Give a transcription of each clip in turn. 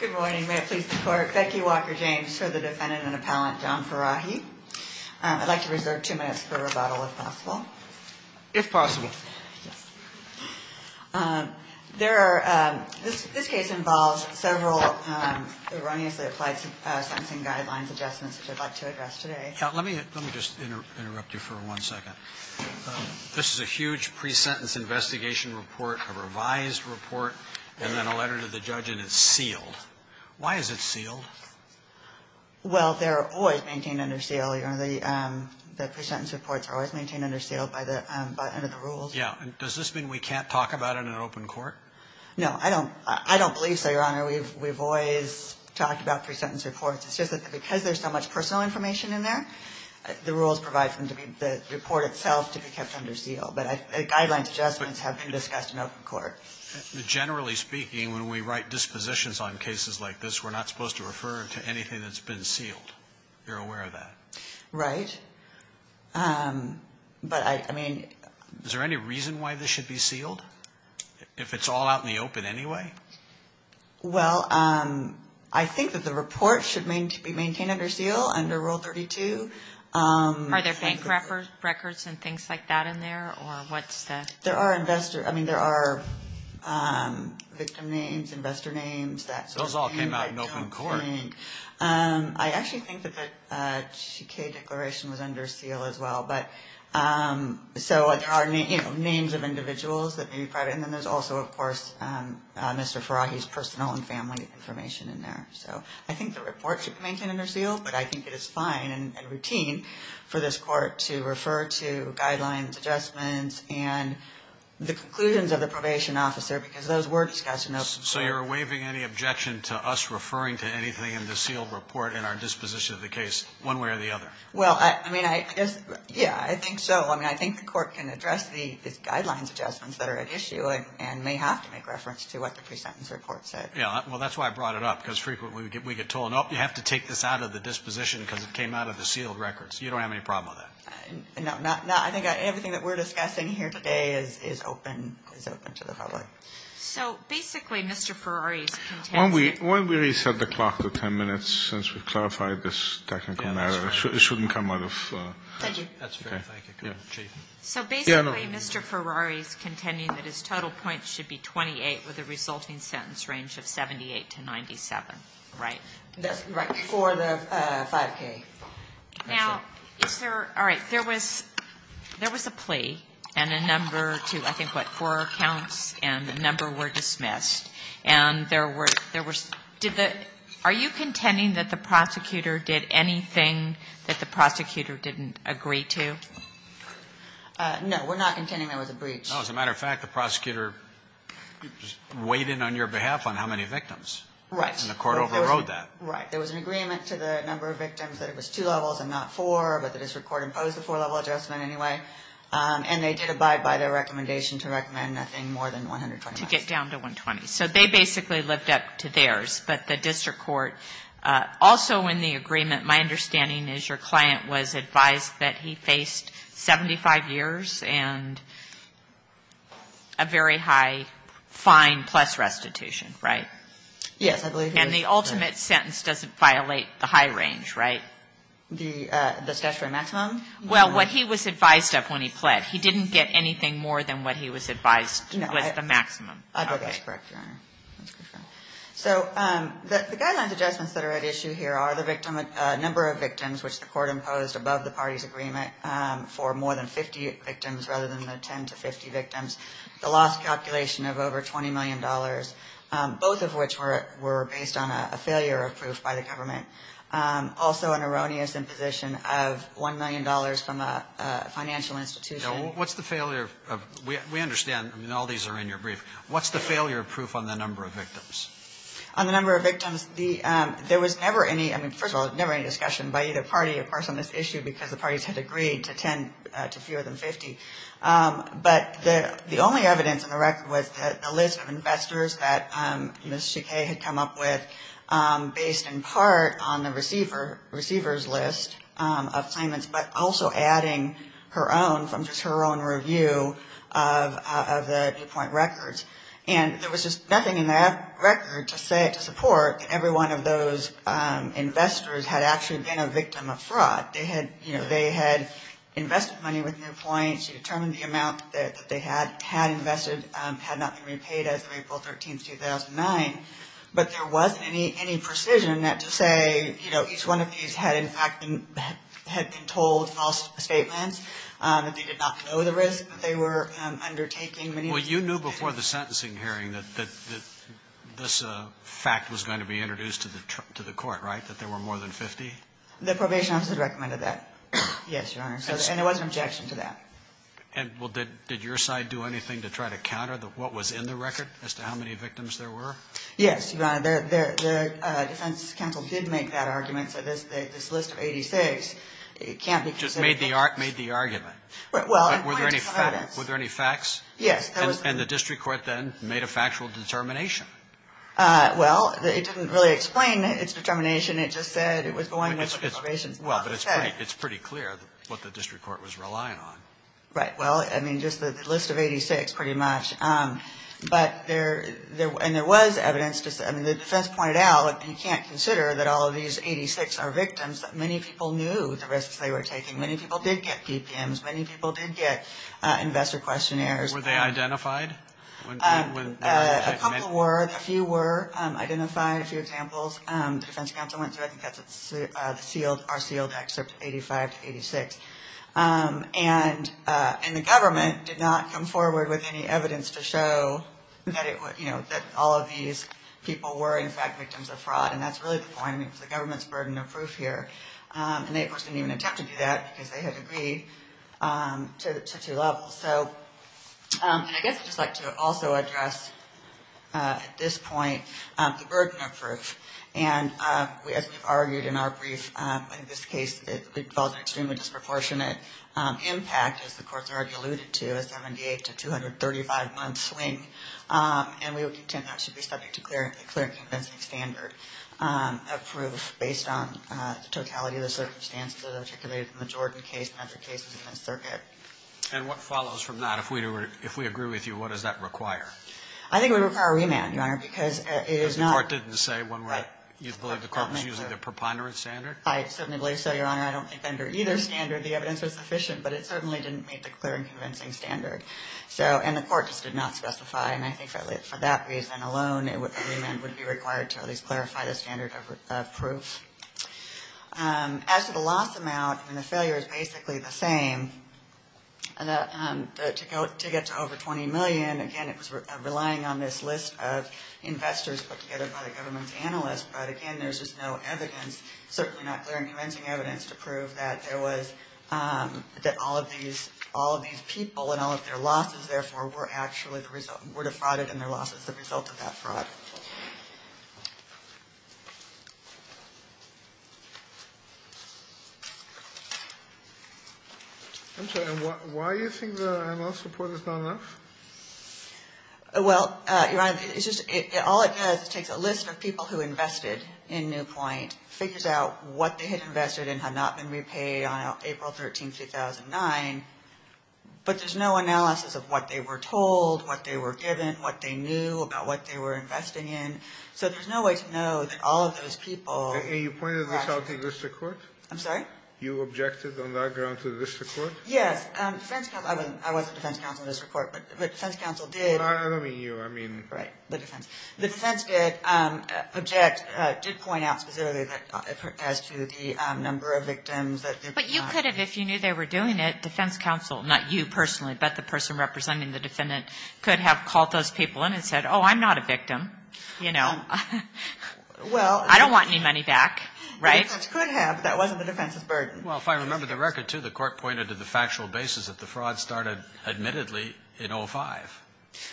Good morning. May it please the Court. Becky Walker-James for the Defendant and Appellant John Farahi. I'd like to reserve two minutes for rebuttal if possible. If possible. This case involves several erroneously applied sentencing guidelines adjustments, which I'd like to address today. Let me just interrupt you for one second. This is a huge pre-sentence investigation report, a revised report, and then a letter to the judge, and it's sealed. Why is it sealed? Well, they're always maintained under seal. The pre-sentence reports are always maintained under seal by the end of the rules. Yeah. Does this mean we can't talk about it in an open court? No, I don't believe so, Your Honor. We've always talked about pre-sentence reports. It's just that because there's so much personal information in there, the rules provide for the report itself to be kept under seal. But guidelines adjustments have been discussed in open court. Generally speaking, when we write dispositions on cases like this, we're not supposed to refer to anything that's been sealed. You're aware of that? Right. But I mean... Is there any reason why this should be sealed, if it's all out in the open anyway? Well, I think that the report should be maintained under seal under Rule 32. Are there bank records and things like that in there, or what's the... There are investor... I mean, there are victim names, investor names. Those all came out in open court. I actually think that the Chiquet Declaration was under seal as well. So there are names of individuals that may be private. And then there's also, of course, Mr. Farahi's personal and family information in there. So I think the report should be maintained under seal, but I think it is fine and routine for this court to refer to guidelines adjustments and the conclusions of the probation officer, because those were discussed in open court. So you're waiving any objection to us referring to anything in the sealed report in our disposition of the case, one way or the other? Well, I mean, I guess, yeah, I think so. I mean, I think the court can address these guidelines adjustments that are at issue and may have to make reference to what the pre-sentence report said. Yeah. Well, that's why I brought it up, because frequently we get told, no, you have to take this out of the disposition because it came out of the sealed records. You don't have any problem with that? No, I think everything that we're discussing here today is open to the public. So basically, Mr. Farahi's contention... When we reset the clock to 10 minutes, since we clarified this technical matter, it shouldn't come out of... Thank you. That's fair. So basically, Mr. Farahi's contending that his total points should be 28 with a resulting sentence range of 78 to 97, right? Right. For the 5K. Now, is there... All right. There was a plea and a number to, I think, what, four counts, and the number were dismissed. And there were... Are you contending that the prosecutor did anything that the prosecutor didn't agree to? No, we're not contending there was a breach. No, as a matter of fact, the prosecutor weighed in on your behalf on how many victims. Right. And the court overrode that. Right. There was an agreement to the number of victims that it was two levels and not four, but the district court imposed a four-level adjustment anyway. And they did abide by their recommendation to recommend nothing more than 120. To get down to 120. So they basically lived up to theirs, but the district court... Also in the agreement, my understanding is your client was advised that he faced 75 years and a very high fine plus restitution, right? Yes, I believe he was. And the ultimate sentence doesn't violate the high range, right? The statutory maximum? Well, what he was advised of when he pled. He didn't get anything more than what he was advised was the maximum. I believe that's correct, Your Honor. So the guidelines adjustments that are at issue here are the number of victims, which the court imposed above the party's agreement, for more than 50 victims rather than the 10 to 50 victims, the loss calculation of over $20 million, both of which were based on a failure of proof by the government. Also an erroneous imposition of $1 million from a financial institution. Now, what's the failure of... We understand, I mean, all these are in your brief. What's the failure of proof on the number of victims? On the number of victims, there was never any, I mean, first of all, never any discussion by either party, of course, on this issue, because the parties had agreed to 10 to fewer than 50. But the only evidence in the record was a list of investors that Ms. Shekay had come up with based in part on the receiver's list of claimants, but also adding her own from just her own review of the Newpoint records. And there was just nothing in that record to support that every one of those investors had actually been a victim of fraud. They had, you know, they had invested money with Newpoint. She determined the amount that they had invested had not been repaid as of April 13, 2009. But there wasn't any precision to say, you know, each one of these had in fact been told false statements, that they did not know the risk that they were undertaking. Well, you knew before the sentencing hearing that this fact was going to be introduced to the court, right, that there were more than 50? The probation office had recommended that, yes, Your Honor, and there was an objection to that. And, well, did your side do anything to try to counter what was in the record as to how many victims there were? Yes, Your Honor, the defense counsel did make that argument. So this list of 86 can't be considered fakes. Just made the argument. Were there any facts? Yes, there was. And the district court then made a factual determination? Well, it didn't really explain its determination. It just said it was going with preservations. Well, but it's pretty clear what the district court was relying on. Right. Well, I mean, just the list of 86 pretty much. But there was evidence. I mean, the defense pointed out that you can't consider that all of these 86 are victims. Many people knew the risks they were taking. Many people did get PPMs. Many people did get investor questionnaires. Were they identified? A couple were. A few were identified. A few examples. The defense counsel went through. I think that's our sealed excerpt, 85 to 86. And the government did not come forward with any evidence to show that all of these people were, in fact, victims of fraud. And that's really the point. I mean, it's the government's burden of proof here. And they, of course, didn't even attempt to do that because they had agreed to two levels. So I guess I'd just like to also address at this point the burden of proof. And as we've argued in our brief, in this case, it involves an extremely disproportionate impact, as the courts already alluded to, a 78 to 235 month swing. And we would contend that should be subject to clear and convincing standard of proof based on the totality of the circumstances articulated in the Jordan case and other cases in this circuit. And what follows from that? If we agree with you, what does that require? I think it would require remand, Your Honor, because it is not... Because the court didn't say when you believe the court was using the preponderance standard? I think a remand would be required to at least clarify the standard of proof. As to the loss amount, I mean, the failure is basically the same. To get to over 20 million, again, it was relying on this list of investors put together by the government's analysts. But again, there's just no evidence, certainly not clear and convincing evidence, to prove that all of these people and all of their losses, therefore, were actually the result...were defrauded and their loss is the result of that fraud. I'm sorry. And why do you think the analyst report is not enough? Well, Your Honor, it's just...all it does is it takes a list of people who invested in Newpoint, figures out what they had invested in, had not been repaid on April 13, 2009, but there's no analysis of what they were told, what they were given, what they knew about what they were investing in. So there's no way to know that all of those people... And you pointed this out to the district court? I'm sorry? You objected on that ground to the district court? Yes. I wasn't defense counsel in this report, but the defense counsel did... The defense did object, did point out specifically as to the number of victims... But you could have, if you knew they were doing it, defense counsel, not you personally, but the person representing the defendant, could have called those people in and said, oh, I'm not a victim. I don't want any money back. The defense could have, but that wasn't the defense's burden. Well, if I remember the record, too, the court pointed to the factual basis that the fraud started, admittedly, in 05.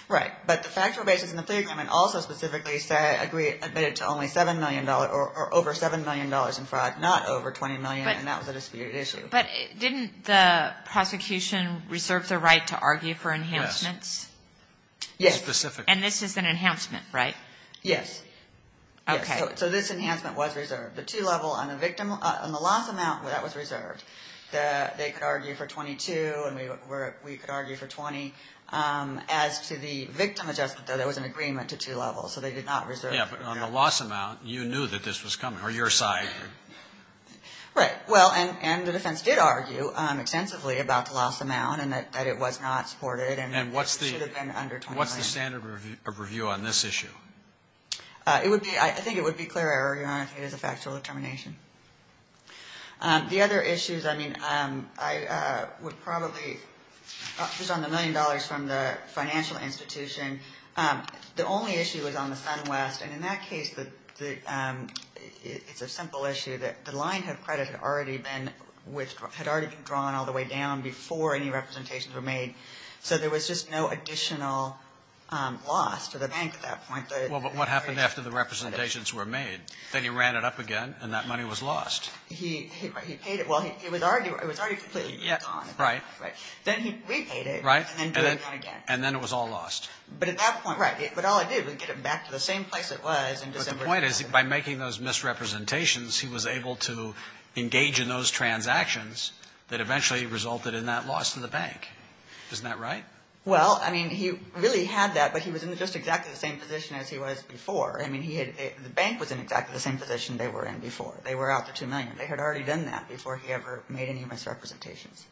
Right, but the factual basis in the plea agreement also specifically admitted to only $7 million, or over $7 million in fraud, not over $20 million, and that was a disputed issue. But didn't the prosecution reserve the right to argue for enhancements? Yes. Specifically. And this is an enhancement, right? Yes. Okay. So this enhancement was reserved. The two-level on the loss amount, that was reserved. They could argue for $22, and we could argue for $20. As to the victim adjustment, though, there was an agreement to two levels, so they did not reserve... Yeah, but on the loss amount, you knew that this was coming, or your side. Right. Well, and the defense did argue extensively about the loss amount, and that it was not supported, and it should have been under $20 million. And what's the standard review on this issue? I think it would be clear error, Your Honor, if it is a factual determination. The other issues, I mean, I would probably, based on the $1 million from the financial institution, the only issue was on the SunWest. And in that case, it's a simple issue that the linehead credit had already been drawn all the way down before any representations were made, so there was just no additional loss to the bank at that point. Well, but what happened after the representations were made? Then he ran it up again, and that money was lost. He paid it. Well, it was already completely gone. Then he repaid it, and then drew it down again. And then it was all lost. But the point is, by making those misrepresentations, he was able to engage in those transactions that eventually resulted in that loss to the bank. Isn't that right? Well, I mean, he really had that, but he was in just exactly the same position as he was before. I mean, the bank was in exactly the same position they were in before. They were out the $2 million. They had already done that before he ever made any misrepresentations.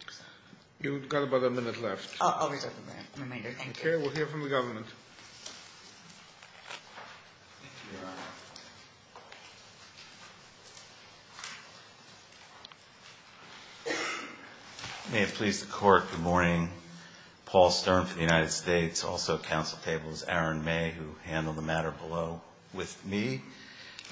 You've got about a minute left. Okay. We'll hear from the government. Thank you, Your Honor. May it please the Court, good morning. Paul Stern from the United States, also at counsel table is Aaron May, who handled the matter below with me.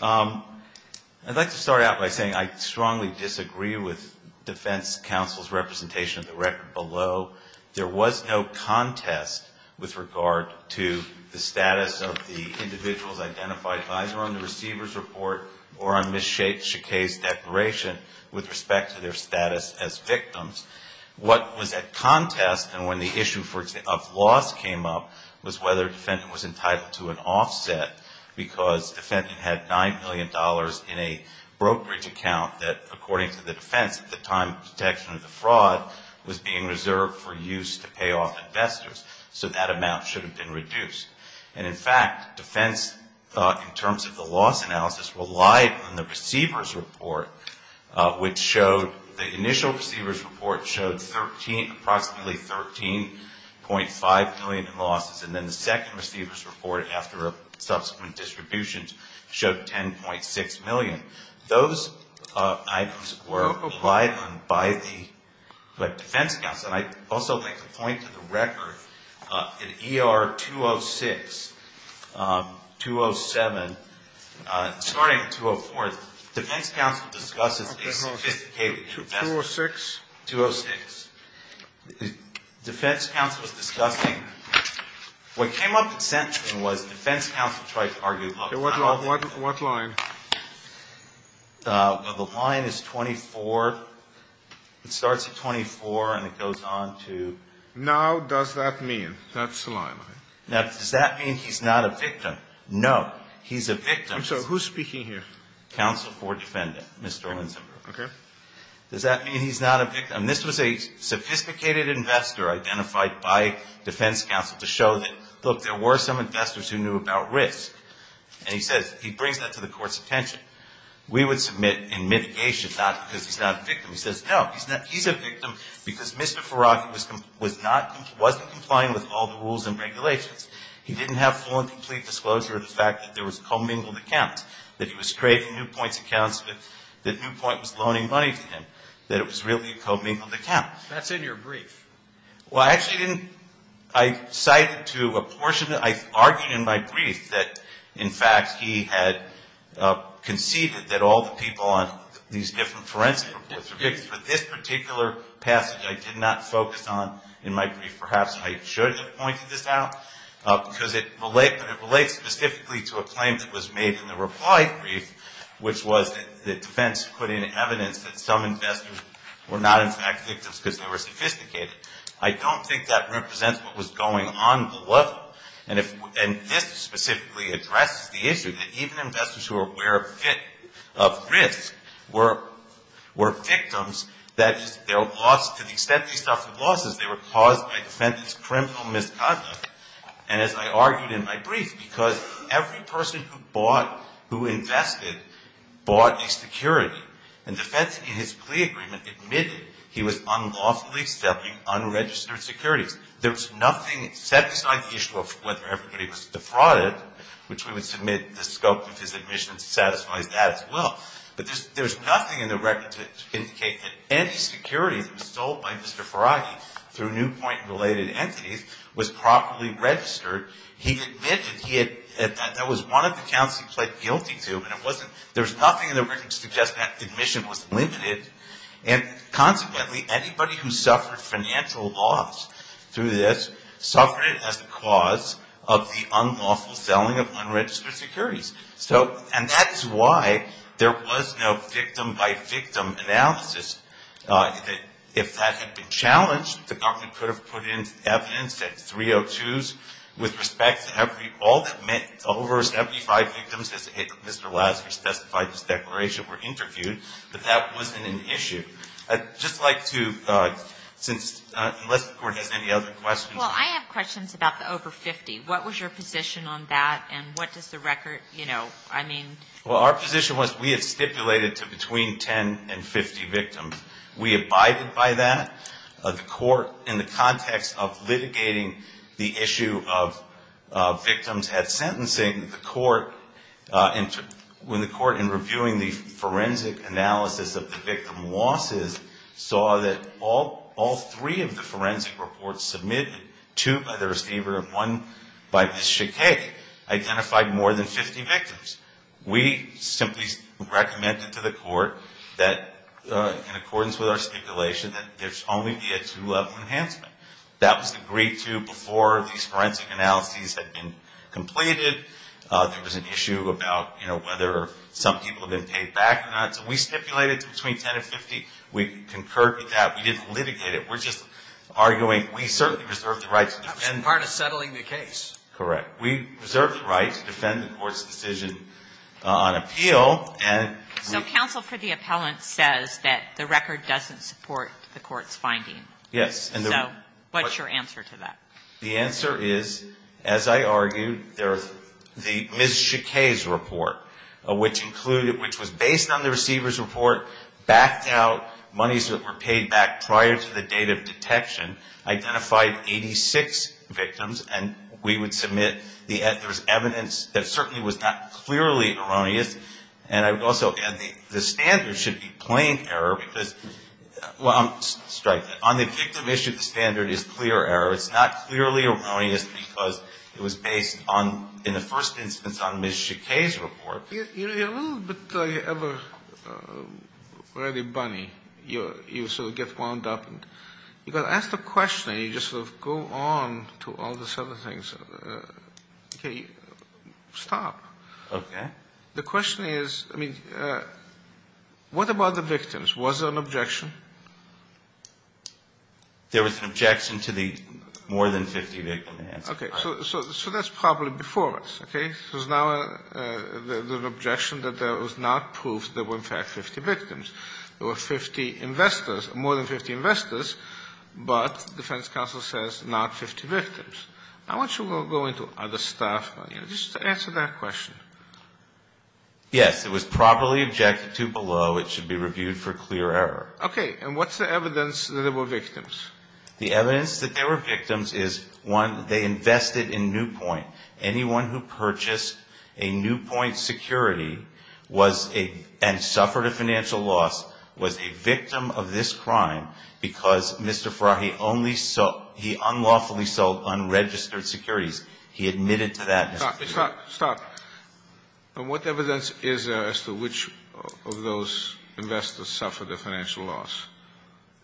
I'd like to start out by saying I strongly disagree with defense counsel's representation of the record below. There was no contest with regard to the status of the individual identified either on the receiver's report or on Ms. Shakay's declaration with respect to their status as victims. What was at contest, and when the issue of loss came up, was whether a defendant was entitled to an offset because the defendant had $9 million in a brokerage account that, according to the defense, at the time of detection of the fraud, was being reserved for use to pay off investors. So that amount should have been reduced. And in fact, defense, in terms of the loss analysis, relied on the receiver's report, which showed, the initial receiver's report showed approximately $13.5 million in losses. And then the second receiver's report, after subsequent distributions, showed $10.6 million. Those items were relied on by the defense counsel. And I'd also like to point to the record, in ER 206, 207, starting in 204, defense counsel discusses a sophisticated investment. 206? 206. Defense counsel was discussing, what came up in sentencing was defense counsel tried to argue. What line? The line is 24. It starts at 24, and it goes on to Now, does that mean? That's the line. Now, does that mean he's not a victim? No. He's a victim. I'm sorry. Who's speaking here? Counsel for defendant, Mr. Lindzenberg. Okay. Does that mean he's not a victim? This was a sophisticated investor identified by defense counsel to show that, look, there were some investors who knew about risk. And he says, he brings that to the court's attention. We would submit in mitigation, not because he's not a victim. He says, no, he's a victim because Mr. Faraki wasn't complying with all the rules and regulations. He didn't have full and complete disclosure of the fact that there was a commingled account, that he was trading Newpoint's accounts, that Newpoint was loaning money to him, that it was really a commingled account. That's in your brief. Well, I actually didn't – I cited to a portion – I argued in my brief that, in fact, he had conceded that all the people on these different forensic reports were victims. For this particular passage, I did not focus on – in my brief, perhaps I should have pointed this out, because it relates specifically to a claim that was made in the reply brief, which was that defense put in evidence that some investors were not, in fact, victims because they were sophisticated. I don't think that represents what was going on below them. And this specifically addresses the issue, that even investors who are aware of risk were victims. That is, they lost – to the extent they suffered losses, they were caused by defendant's criminal misconduct. And as I argued in my brief, because every person who bought, who invested, bought a security. And the defense in his plea agreement admitted he was unlawfully selling unregistered securities. There's nothing set beside the issue of whether everybody was defrauded, which we would submit the scope of his admission satisfies that as well. But there's nothing in the record to indicate that any security that was sold by Mr. Faragi through Newpoint-related entities was properly registered. He admitted he had – that was one of the accounts he pled guilty to. And it wasn't – there's nothing in the record to suggest that admission was limited. And consequently, anybody who suffered financial loss through this suffered it as the cause of the unlawful selling of unregistered securities. So – and that is why there was no victim-by-victim analysis that if that had been challenged, the government could have put in evidence at 302s with respect to every – all that meant over 75 victims, as Mr. Lasseter specified in his declaration, were interviewed, but that wasn't an issue. I'd just like to, since – unless the Court has any other questions. Well, I have questions about the over 50. What was your position on that, and what does the record, you know, I mean? Well, our position was we had stipulated to between 10 and 50 victims. We abided by that. The Court, in the context of litigating the issue of victims at sentencing, the Court – when the Court, in reviewing the forensic analysis of the victim losses, saw that all three of the forensic reports submitted, two by the receiver and one by Ms. Schicke, identified more than 50 victims. We simply recommended to the Court that, in accordance with our stipulation, that there should only be a two-level enhancement. That was agreed to before these forensic analyses had been completed. There was an issue about, you know, whether some people had been paid back or not. So we stipulated to between 10 and 50. We concurred with that. We didn't litigate it. We're just arguing we certainly reserve the right to defend. As part of settling the case. Correct. We reserve the right to defend the Court's decision on appeal. So counsel for the appellant says that the record doesn't support the Court's finding. Yes. So what's your answer to that? The answer is, as I argued, the Ms. Schicke's report, which included – which was based on the receiver's report, backed out monies that were paid back prior to the date of detection, identified 86 victims. And we would submit the evidence that certainly was not clearly erroneous. And I would also add the standard should be plain error. Well, strike that. On the victim issue, the standard is clear error. It's not clearly erroneous because it was based on, in the first instance, on Ms. Schicke's report. You're a little bit of a ready bunny. You sort of get wound up and you've got to ask the question and you just sort of go on to all these other things. Okay. Stop. Okay. The question is, I mean, what about the victims? Was there an objection? There was an objection to the more than 50 victims. Okay. So that's probably before us. Okay. So now there's an objection that there was not proof that there were in fact 50 victims. There were 50 investors, more than 50 investors, but defense counsel says not 50 victims. I want you to go into other stuff, just to answer that question. Yes. It was properly objected to below. It should be reviewed for clear error. Okay. And what's the evidence that there were victims? The evidence that there were victims is, one, they invested in Newpoint. Anyone who purchased a Newpoint security was a, and suffered a financial loss, was a victim of this crime because Mr. Farahi only sold, he unlawfully sold unregistered securities. He admitted to that. Stop. Stop. And what evidence is there as to which of those investors suffered a financial loss?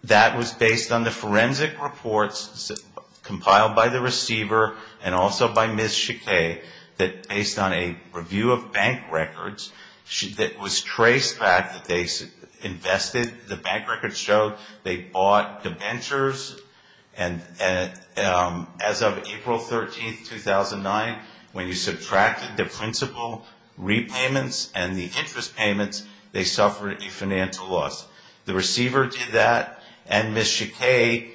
That was based on the forensic reports compiled by the receiver and also by Ms. Chiquet that based on a review of bank records that was traced back that they invested, the bank records showed they bought debentures, and as of April 13, 2009, when you subtracted the principal repayments and the interest payments, they suffered a financial loss. The receiver did that, and Ms. Chiquet,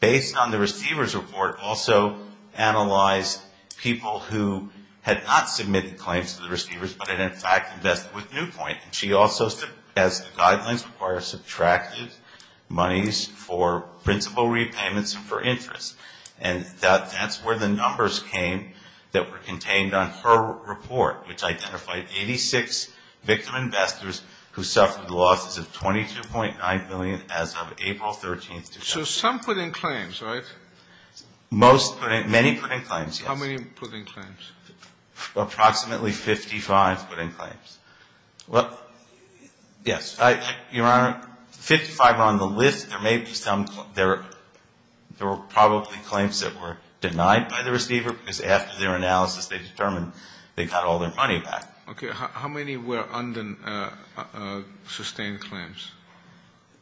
based on the receiver's report, also analyzed people who had not submitted claims to the receivers, but had in fact invested with Newpoint. And she also said, as the guidelines require, subtracted monies for principal repayments and for interest. And that's where the numbers came that were contained on her report, which identified 86 victim investors who suffered losses of $22.9 million as of April 13, 2009. So some put in claims, right? Many put in claims, yes. How many put in claims? Approximately 55 put in claims. Well, yes. Your Honor, 55 are on the list. There were probably claims that were denied by the receiver because after their analysis they determined they got all their money back. Okay. How many were sustained claims?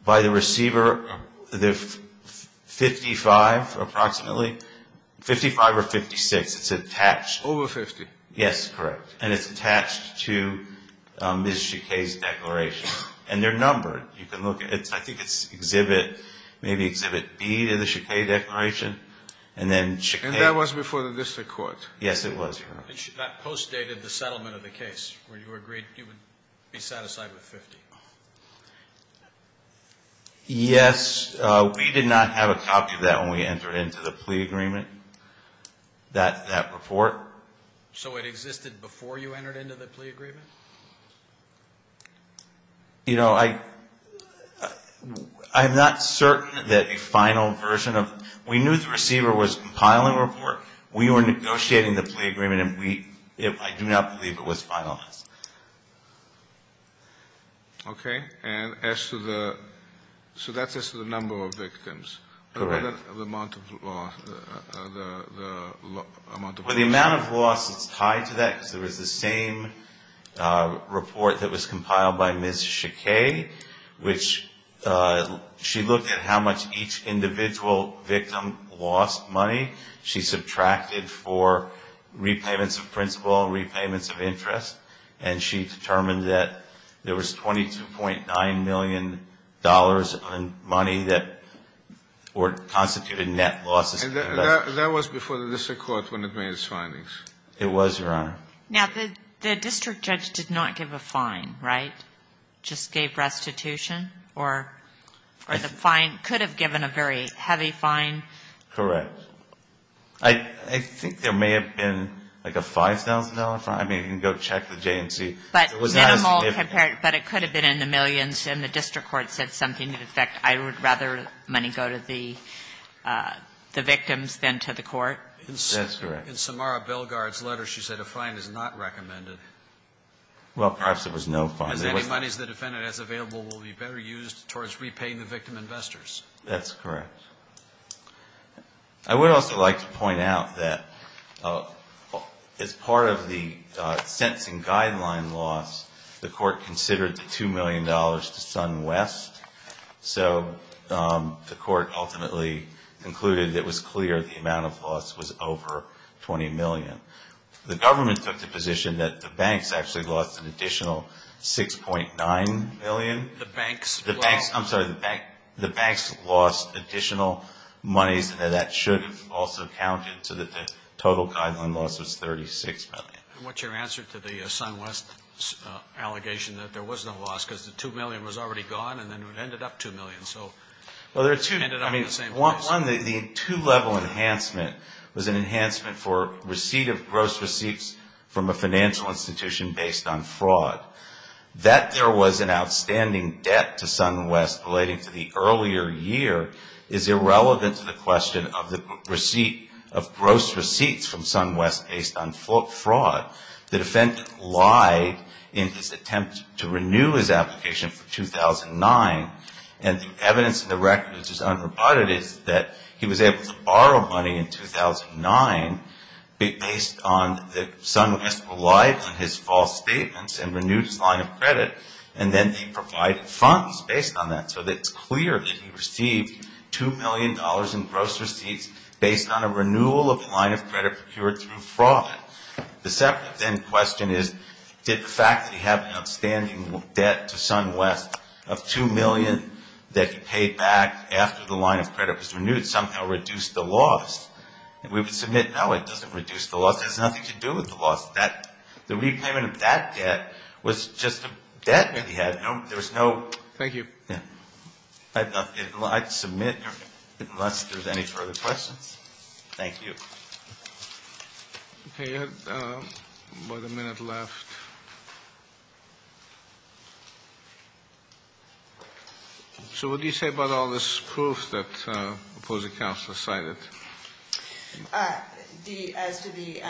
By the receiver, 55 approximately. 55 or 56. It's attached. Over 50. Yes, correct. And it's attached to Ms. Chiquet's declaration. And they're numbered. You can look at it. I think it's Exhibit B to the Chiquet declaration, and then Chiquet. That was before the district court. Yes, it was, Your Honor. That postdated the settlement of the case where you agreed you would be satisfied with 50. Yes, we did not have a copy of that when we entered into the plea agreement, that report. So it existed before you entered into the plea agreement? You know, I'm not certain that a final version of we knew the receiver was compiling the report. We were negotiating the plea agreement, and I do not believe it was finalized. Okay. And as to the amount of loss. Well, the amount of loss is tied to that because there was the same report that was compiled by Ms. Chiquet, which she looked at how much each individual victim lost money. She subtracted for repayments of principal, repayments of interest, and she determined that there was $22.9 million in money that constituted net losses. And that was before the district court when it made its findings? It was, Your Honor. Now, the district judge did not give a fine, right? Just gave restitution? Or the fine could have given a very heavy fine? Correct. I think there may have been like a $5,000 fine. I mean, you can go check with J&C. But it could have been in the millions, and the district court said something to the effect, I would rather money go to the victims than to the court? That's correct. In Samara Bilgard's letter, she said a fine is not recommended. Well, perhaps there was no fine. Because any monies the defendant has available will be better used towards repaying the victim investors. That's correct. I would also like to point out that as part of the sentencing guideline loss, the court considered the $2 million to SunWest. So the court ultimately concluded that it was clear the amount of loss was over $20 million. The government took the position that the banks actually lost an additional $6.9 million. The banks? I'm sorry, the banks lost additional monies, and that should have also counted so that the total guideline loss was $36 million. And what's your answer to the SunWest allegation that there was no loss, because the $2 million was already gone, and then it ended up $2 million. Well, there are two. I mean, one, the two-level enhancement was an enhancement for receipt of gross receipts from a financial institution based on fraud. That there was an outstanding debt to SunWest relating to the earlier year is irrelevant to the question of the receipt of gross receipts from SunWest based on fraud. The defendant lied in his attempt to renew his application for 2009, and the evidence in the record which is unrebutted is that he was able to borrow money in 2009 based on the SunWest relied on his false statements and renewed his line of credit, and then they provided funds based on that. So it's clear that he received $2 million in gross receipts based on a renewal of the line of credit procured through fraud. The second then question is, did the fact that he had an outstanding debt to SunWest of $2 million that he paid back after the line of credit was renewed somehow reduce the loss? And we would submit, no, it doesn't reduce the loss. It has nothing to do with the loss. The repayment of that debt was just a debt that he had. There was no... So what do you say about all this proof that opposing counsel cited? As to the...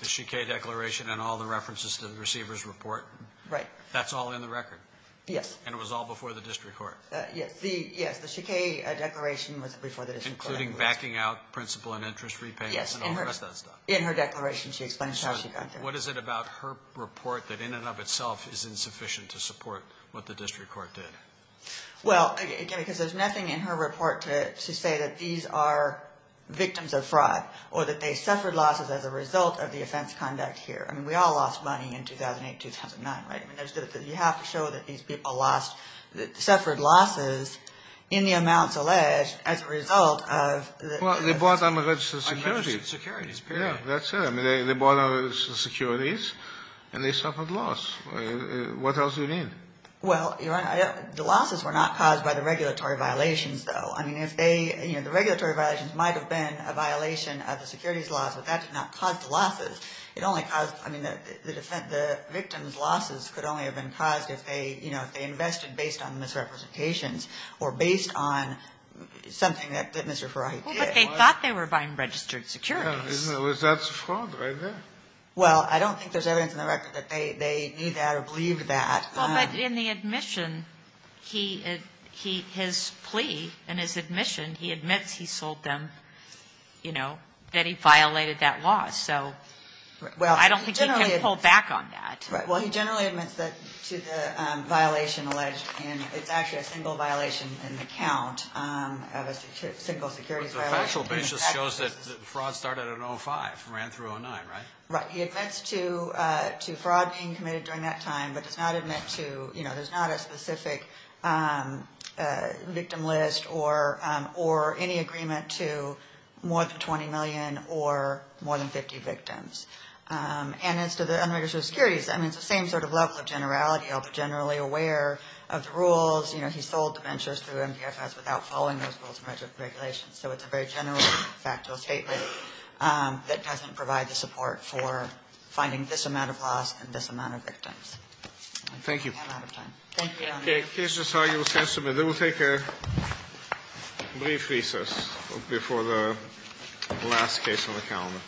The Chiquet Declaration and all the references to the receiver's report? Right. That's all in the record? Yes. And it was all before the district court? Yes. The Chiquet Declaration was before the district court. Including backing out principal and interest repayments and all the rest of that stuff. Yes. In her declaration she explains how she got there. What is it about her report that in and of itself is insufficient to support what the district court did? Well, again, because there's nothing in her report to say that these are victims of fraud or that they suffered losses as a result of the offense conduct here. I mean, we all lost money in 2008, 2009, right? You have to show that these people suffered losses in the amounts alleged as a result of... Well, they bought unregistered securities. Unregistered securities, period. Yeah, that's it. I mean, they bought unregistered securities, and they suffered loss. What else do you need? Well, Your Honor, the losses were not caused by the regulatory violations, though. I mean, if they, you know, the regulatory violations might have been a violation of the securities laws, but that did not cause the losses. It only caused, I mean, the victims' losses could only have been caused if they, you know, if they invested based on misrepresentations or based on something that Mr. Farahi did. Well, but they thought they were buying registered securities. That's fraud right there. Well, I don't think there's evidence in the record that they knew that or believed that. Well, but in the admission, his plea in his admission, he admits he sold them, you know, that he violated that law. So I don't think he can pull back on that. Well, he generally admits that to the violation alleged, and it's actually a single violation in the count of a single securities violation. The factual basis shows that the fraud started at 05, ran through 09, right? Right. He admits to fraud being committed during that time, but does not admit to, you know, there's not a specific victim list or any agreement to more than 20 million or more than 50 victims. And as to the unregistered securities, I mean, it's the same sort of level of generality. He'll be generally aware of the rules. You know, he sold the ventures through MPFS without following those rules and regulations. So it's a very general factual statement that doesn't provide the support for finding this amount of laws and this amount of victims. Thank you. I'm running out of time. Thank you, Your Honor. Okay. This is how you will submit. Then we'll take a brief recess before the last case on the calendar.